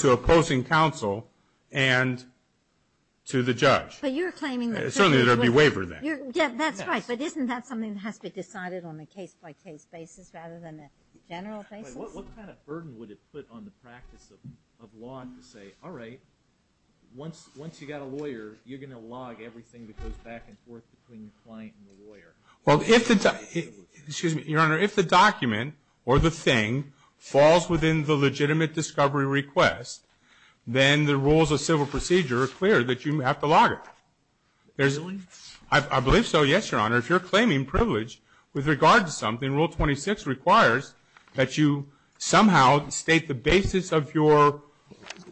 ...to opposing counsel and to the judge. But you're claiming that... Certainly there'd be a waiver then. Yeah, that's right. But isn't that something that has to be decided on a case-by-case basis rather than a general basis? What kind of burden would it put on the practice of law to say, all right, once you've got a lawyer, you're going to log everything that goes back and forth between the client and the lawyer? Well, if the... excuse me, Your Honor, if the document or the thing falls within the legitimate discovery request, then the rules of civil procedure are clear that you have to log it. Really? I believe so, yes, Your Honor. If you're claiming privilege with regard to something, Rule 26 requires that you somehow state the basis of your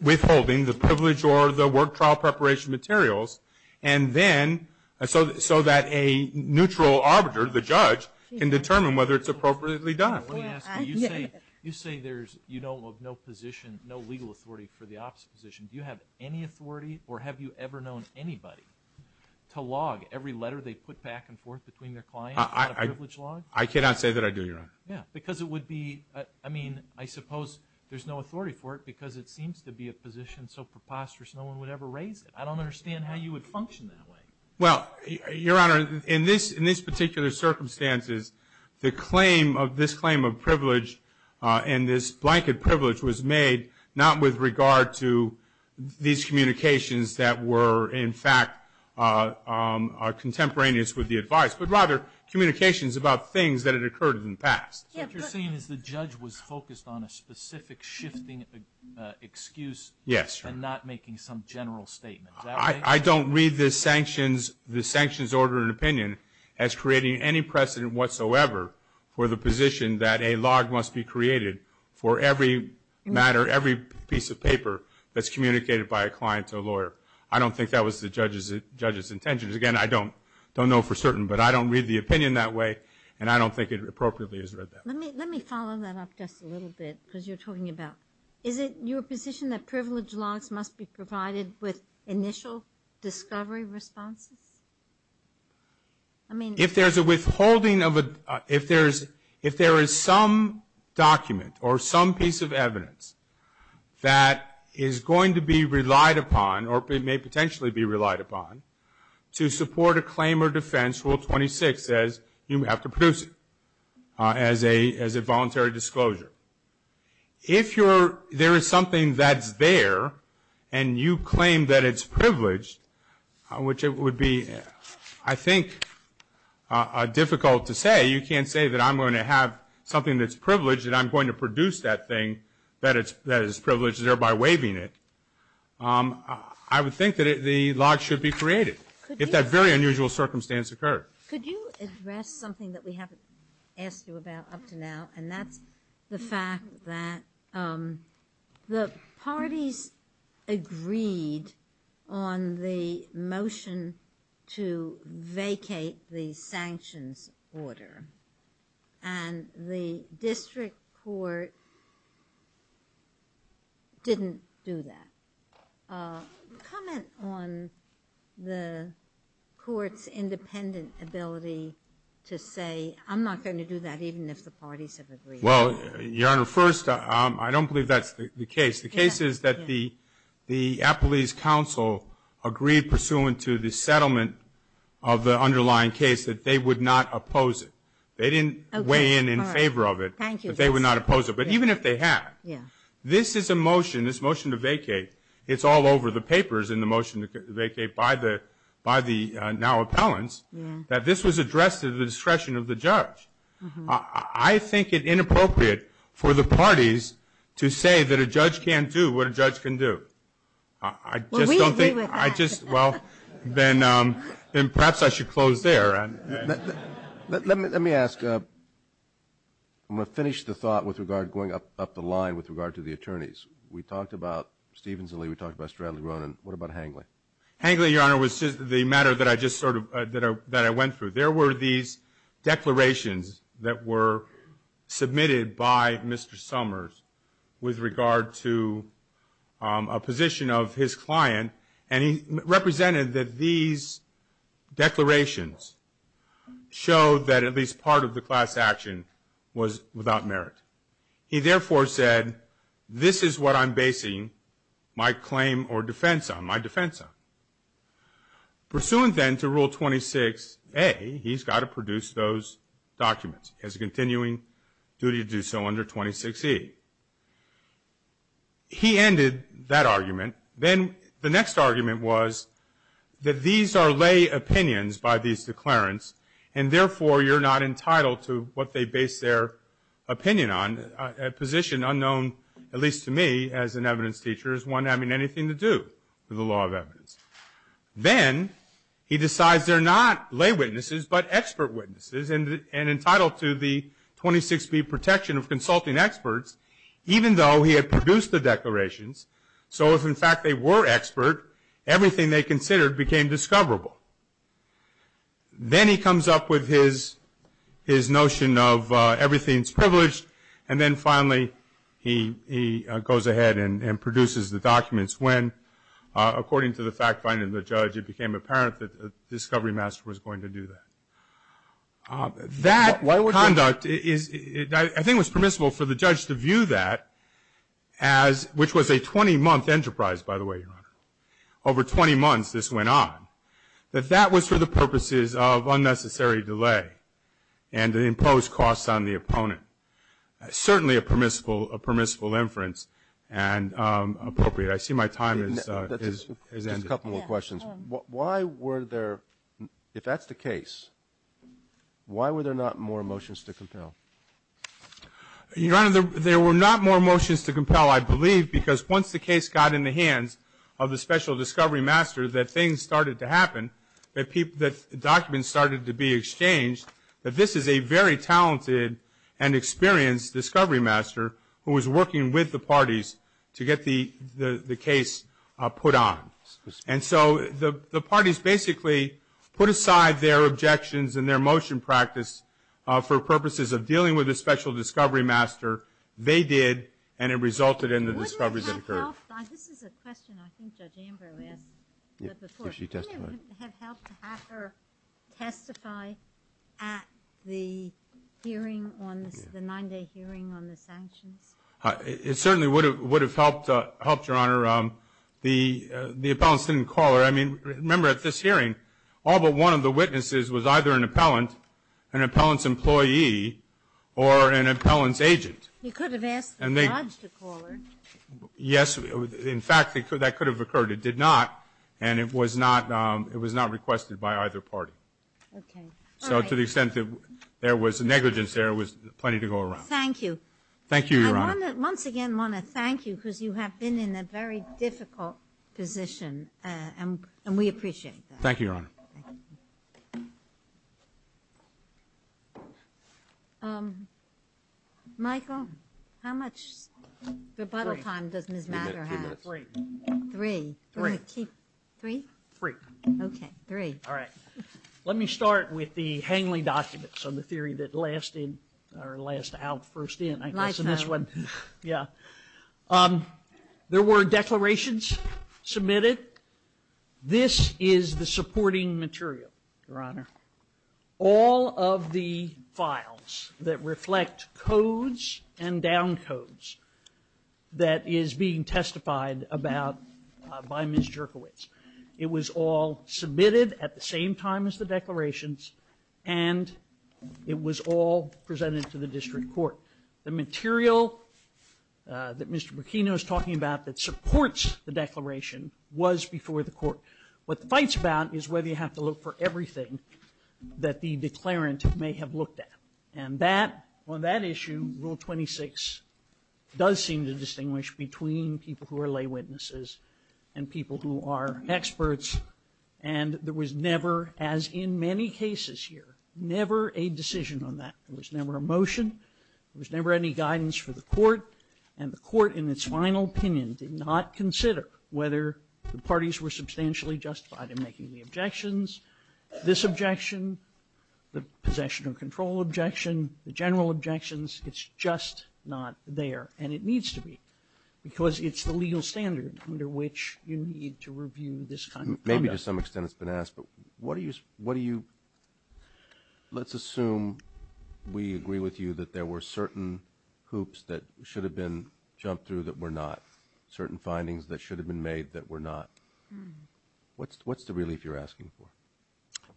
withholding, the privilege or the work trial preparation materials, and then... so that a neutral arbiter, the judge, can determine whether it's appropriately done. Let me ask you, you say there's, you know, no position, no legal authority for the opposite position. Do you have any authority or have you ever known anybody to log every letter they put back and forth between their clients? I cannot say that I do, Your Honor. Yeah, because it would be... I mean, I suppose there's no authority for it because it seems to be a position so preposterous no one would ever raise it. I don't understand how you would function that way. Well, Your Honor, in this particular circumstance, the claim of this claim of privilege and this blanket privilege was made not with regard to these communications that were in fact contemporaneous with the advice, but rather communications about things that had occurred in the past. What you're saying is the judge was focused on a specific shifting excuse... Yes, Your Honor. ...and not making some general statement. Is that right? I don't read the sanctions order and opinion as creating any precedent whatsoever for the position that a log must be created for every matter, every piece of paper that's communicated by a client to a lawyer. I don't think that was the judge's intention. Again, I don't know for certain, but I don't read the opinion that way and I don't think it appropriately is read that way. Let me follow that up just a little bit because you're talking about... Is it your position that privilege logs must be provided with initial discovery responses? I mean... If there's a withholding of a... If there is some document or some piece of evidence that is going to be relied upon or may potentially be relied upon to support a claim or defense, Rule 26 says you have to produce it as a voluntary disclosure. If there is something that's there and you claim that it's privileged, which it would be, I think, difficult to say. You can't say that I'm going to have something that's privileged and I'm going to produce that thing that is privileged thereby waiving it. I would think that the log should be created if that very unusual circumstance occurred. Could you address something that we haven't asked you about up to now? And that's the fact that the parties agreed on the motion to vacate the sanctions order and the district court didn't do that. Comment on the court's independent ability to say, I'm not going to do that even if the parties have agreed. Well, Your Honor, first, I don't believe that's the case. The case is that the appellee's counsel agreed, pursuant to the settlement of the underlying case, that they would not oppose it. They didn't weigh in in favor of it, but they would not oppose it. But even if they had, this is a motion, this motion to vacate, it's all over the papers in the motion to vacate by the now appellants, that this was addressed at the discretion of the judge. I think it inappropriate for the parties to say that a judge can't do what a judge can do. Well, we agree with that. Then perhaps I should close there. Let me ask, I'm going to finish the thought with regard going up the line with regard to the attorneys. We talked about Stevens and Lee, we talked about Stradley-Ronan, what about Hangley? Hangley, Your Honor, was the matter that I just sort of, that I went through. There were these declarations that were submitted by Mr. Summers with regard to a position of his client, and he represented that these declarations showed that at least part of the class action was without merit. He therefore said, this is what I'm basing my claim or defense on, my defense on. Pursuant then to Rule 26a, he's got to produce those documents as a continuing duty to do so under 26e. He ended that argument. Then the next argument was that these are lay opinions by these declarants, and therefore you're not entitled to what they base their opinion on, a position unknown, at least to me as an evidence teacher, as one having anything to do with the law of evidence. Then he decides they're not lay witnesses, but expert witnesses, and entitled to the 26b protection of consulting experts, even though he had produced the declarations, so if in fact they were expert, everything they considered became discoverable. Then he comes up with his notion of everything's privileged, and then finally he goes ahead and produces the documents, when, according to the fact finding of the judge, it became apparent that the discovery master was going to do that. That conduct is, I think it was permissible for the judge to view that as, which was a 20-month enterprise, by the way, Your Honor, over 20 months this went on, that that was for the purposes of unnecessary delay, and to impose costs on the opponent. Certainly a permissible inference, and appropriate. I see my time has ended. And a couple more questions. Why were there, if that's the case, why were there not more motions to compel? Your Honor, there were not more motions to compel, I believe, because once the case got in the hands of the special discovery master, that things started to happen, that documents started to be exchanged, that this is a very talented and experienced discovery master, who was working with the parties to get the case put on. And so the parties basically put aside their objections and their motion practice for purposes of dealing with the special discovery master. They did, and it resulted in the discoveries that occurred. Wouldn't it have helped, this is a question I think Judge Amber asked before. Wouldn't it have helped to have her testify at the hearing, the nine-day hearing on the sanctions? It certainly would have helped, Your Honor, the appellants didn't call her. I mean, remember at this hearing, all but one of the witnesses was either an appellant, an appellant's employee, or an appellant's agent. You could have asked the judge to call her. Yes. In fact, that could have occurred. It did not, and it was not requested by either party. Okay. So to the extent that there was negligence there, there was plenty to go around. Thank you. Thank you, Your Honor. I once again want to thank you, because you have been in a very difficult position, and we appreciate that. Thank you, Your Honor. Thank you. Michael, how much rebuttal time does Ms. Matter have? Three. Three? Three. Three? Three. Okay, three. All right. Let me start with the Hangley documents, on the theory that lasted, or last out first in, I guess in this one. Lifetime. Yeah. There were declarations submitted. This is the supporting material, Your Honor. All of the files that reflect codes and down codes that is being testified about by Ms. Jerkowitz. It was all submitted at the same time as the declarations, and it was all presented to the district court. The material that Mr. Burkina was talking about that supports the declaration was before the court. What the fight's about is whether you have to look for everything that the declarant may have looked at. And that, on that issue, Rule 26 does seem to distinguish between people who are lay witnesses and people who are experts. And there was never, as in many cases here, never a decision on that. There was never a motion. There was never any guidance for the court. And the court, in its final opinion, did not consider whether the parties were substantially justified in making the objections. This objection, the possession of control objection, the general objections, it's just not there. And it needs to be, because it's the legal standard under which you need to review this kind of conduct. Maybe to some extent it's been asked, but what do you, let's assume we agree with you that there were certain hoops that should have been jumped through that were not, certain findings that should have been made that were not. What's the relief you're asking for?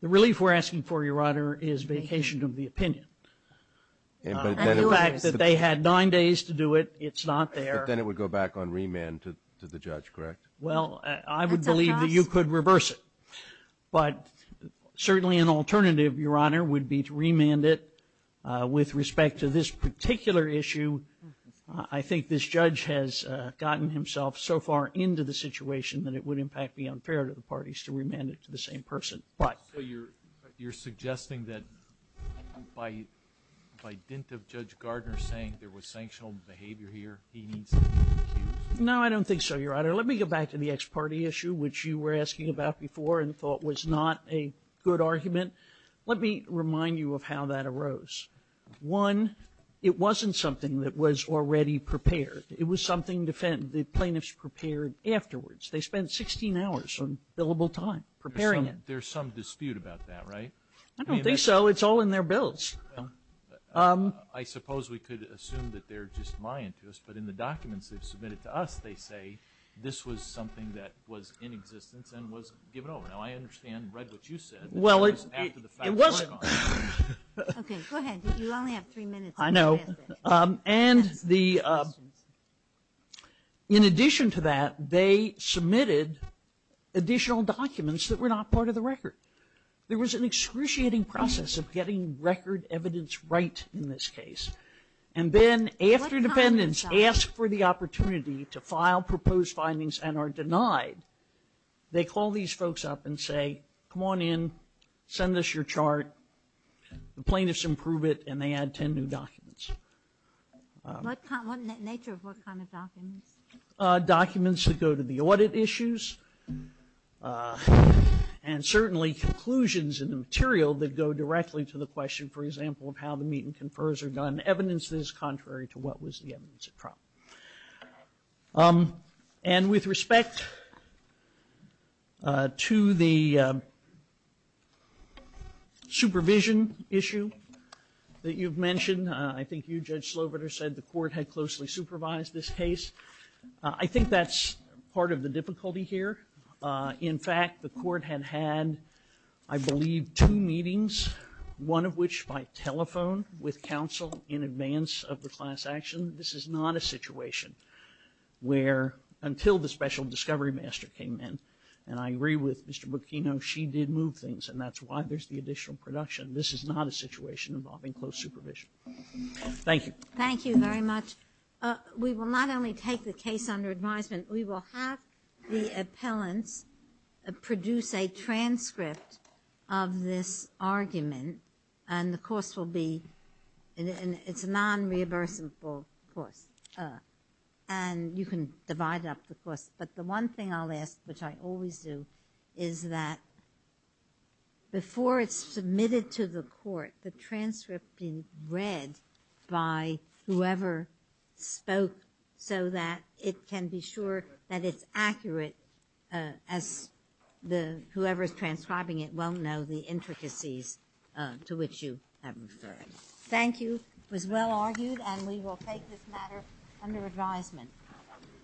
The relief we're asking for, Your Honor, is vacation of the opinion. And the fact that they had nine days to do it, it's not there. But then it would go back on remand to the judge, correct? Well, I would believe that you could reverse it. But certainly an alternative, Your Honor, would be to remand it. With respect to this particular issue, I think this judge has gotten himself so far into the situation that it would impact the unfair to the parties to remand it to the same person. So you're suggesting that by dint of Judge Gardner saying there was sanctional behavior here, he needs to be accused? No, I don't think so, Your Honor. Let me go back to the ex-party issue, which you were asking about before and thought was not a good argument. Let me remind you of how that arose. One, it wasn't something that was already prepared. It was something the plaintiffs prepared afterwards. They spent 16 hours on billable time preparing it. There's some dispute about that, right? I don't think so. It's all in their bills. I suppose we could assume that they're just lying to us. But in the documents they've submitted to us, they say this was something that was in existence and was given over. Now, I understand and read what you said. Well, it was... Okay, go ahead. You only have three minutes. I know. In addition to that, they submitted additional documents that were not part of the record. There was an excruciating process of getting record evidence right in this case. And then after defendants asked for the opportunity to file proposed findings and are denied, they call these folks up and say, come on in, send us your chart, the plaintiffs improve it, and they add 10 new documents. What nature of what kind of documents? Documents that go to the audit issues and certainly conclusions in the material that go directly to the question, for example, of how the meet and confers are done, evidence that is contrary to what was the evidence at trial. And with respect to the supervision issue that you've mentioned, I think you, Judge Sloboda, said the court had closely supervised this case. I think that's part of the difficulty here. In fact, the court had had, I believe, two meetings, one of which by telephone with counsel in advance of the class action. This is not a situation where, until the special discovery master came in, and I agree with Mr. Bocchino, she did move things, and that's why there's the additional production. This is not a situation involving close supervision. Thank you. Thank you very much. We will not only take the case under advisement, we will have the appellants produce a transcript of this argument, and the course will be, it's a non-reversible course, and you can divide up the course. But the one thing I'll ask, which I always do, is that before it's submitted to the court, the transcript being read by whoever spoke, so that it can be sure that it's accurate, as whoever's transcribing it will know the intricacies to which you have referred. Thank you. It was well argued, and we will take this matter under advisement.